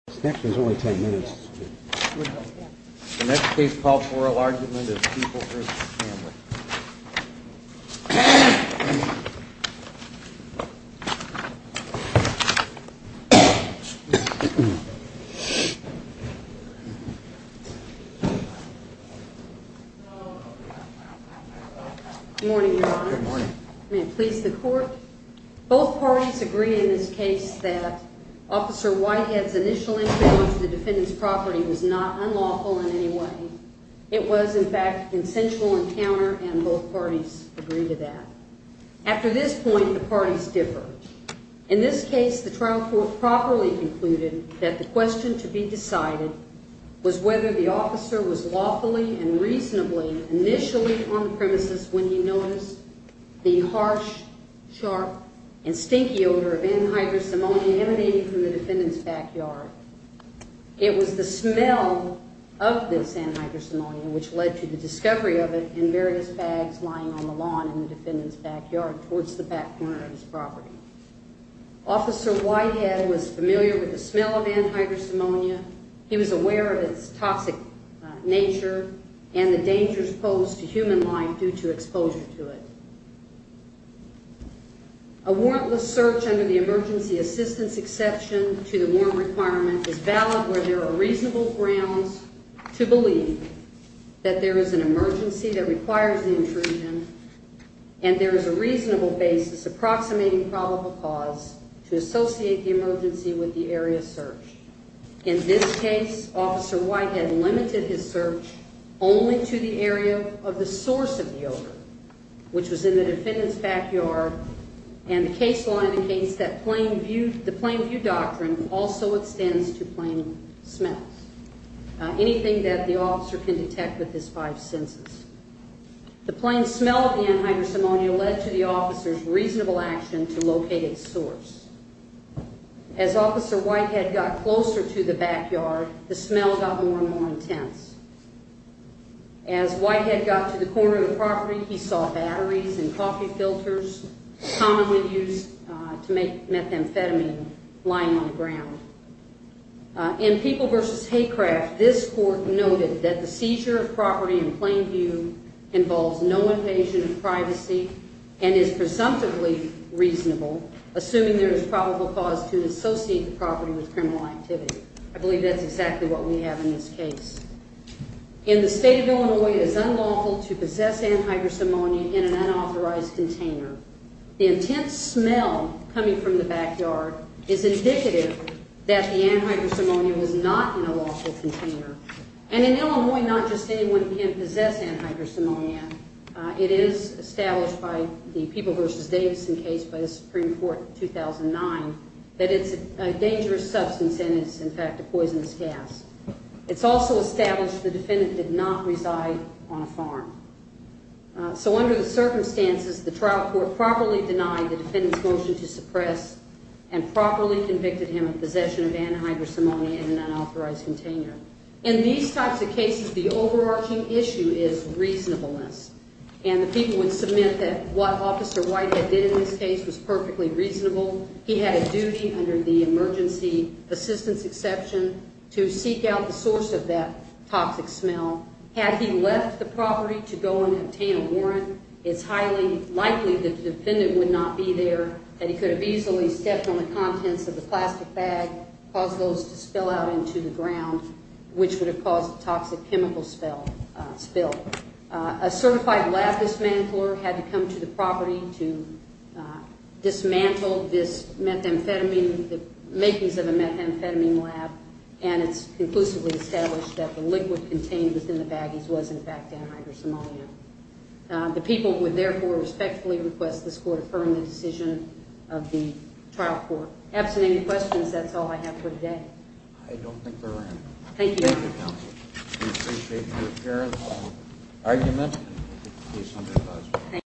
There's only ten minutes. The next case called for oral argument is People vs. Stanley. Good morning, Your Honor. Good morning. May it please the court. Both parties agree in this case that Officer Whitehead's initial encounter with the defendant's property was not unlawful in any way. It was, in fact, a consensual encounter, and both parties agree to that. After this point, the parties differ. In this case, the trial court properly concluded that the question to be decided was whether the officer was lawfully and reasonably initially on the premises when he noticed the harsh, sharp, and stinky odor of anhydrous ammonia emanating from the defendant's backyard. It was the smell of this anhydrous ammonia which led to the discovery of it in various bags lying on the lawn in the defendant's backyard towards the back corner of his property. Officer Whitehead was familiar with the smell of anhydrous ammonia. He was aware of its toxic nature and the dangers posed to human life due to exposure to it. A warrantless search under the emergency assistance exception to the warrant requirement is valid where there are reasonable grounds to believe that there is an emergency that requires the intrusion and there is a reasonable basis approximating probable cause to associate the emergency with the area searched. In this case, Officer Whitehead limited his search only to the area of the source of the odor, which was in the defendant's backyard, and the case law indicates that the plain view doctrine also extends to plain smells, anything that the officer can detect with his five senses. The plain smell of the anhydrous ammonia led to the officer's reasonable action to locate its source. As Officer Whitehead got closer to the backyard, the smell got more and more intense. As Whitehead got to the corner of the property, he saw batteries and coffee filters commonly used to make methamphetamine lying on the ground. In People v. Haycraft, this court noted that the seizure of property in plain view involves no invasion of privacy and is presumptively reasonable, assuming there is probable cause to associate the property with criminal activity. I believe that's exactly what we have in this case. In the state of Illinois, it is unlawful to possess anhydrous ammonia in an unauthorized container. The intense smell coming from the backyard is indicative that the anhydrous ammonia was not in a lawful container. And in Illinois, not just anyone can possess anhydrous ammonia. It is established by the People v. Davidson case by the Supreme Court in 2009 that it's a dangerous substance and it's, in fact, a poisonous gas. It's also established the defendant did not reside on a farm. So under the circumstances, the trial court properly denied the defendant's motion to suppress and properly convicted him of possession of anhydrous ammonia in an unauthorized container. In these types of cases, the overarching issue is reasonableness. And the People would submit that what Officer Whitehead did in this case was perfectly reasonable. He had a duty under the emergency assistance exception to seek out the source of that toxic smell. Had he left the property to go and obtain a warrant, it's highly likely that the defendant would not be there and he could have easily stepped on the contents of the plastic bag, caused those to spill out into the ground, which would have caused a toxic chemical spill. A certified lab dismantler had to come to the property to dismantle this methamphetamine, the makings of a methamphetamine lab, and it's conclusively established that the liquid contained within the baggies was, in fact, anhydrous ammonia. The People would, therefore, respectfully request this Court affirm the decision of the trial court. Absent any questions, that's all I have for today. I don't think there are any. Thank you. Thank you, Counsel. We appreciate your careful argument.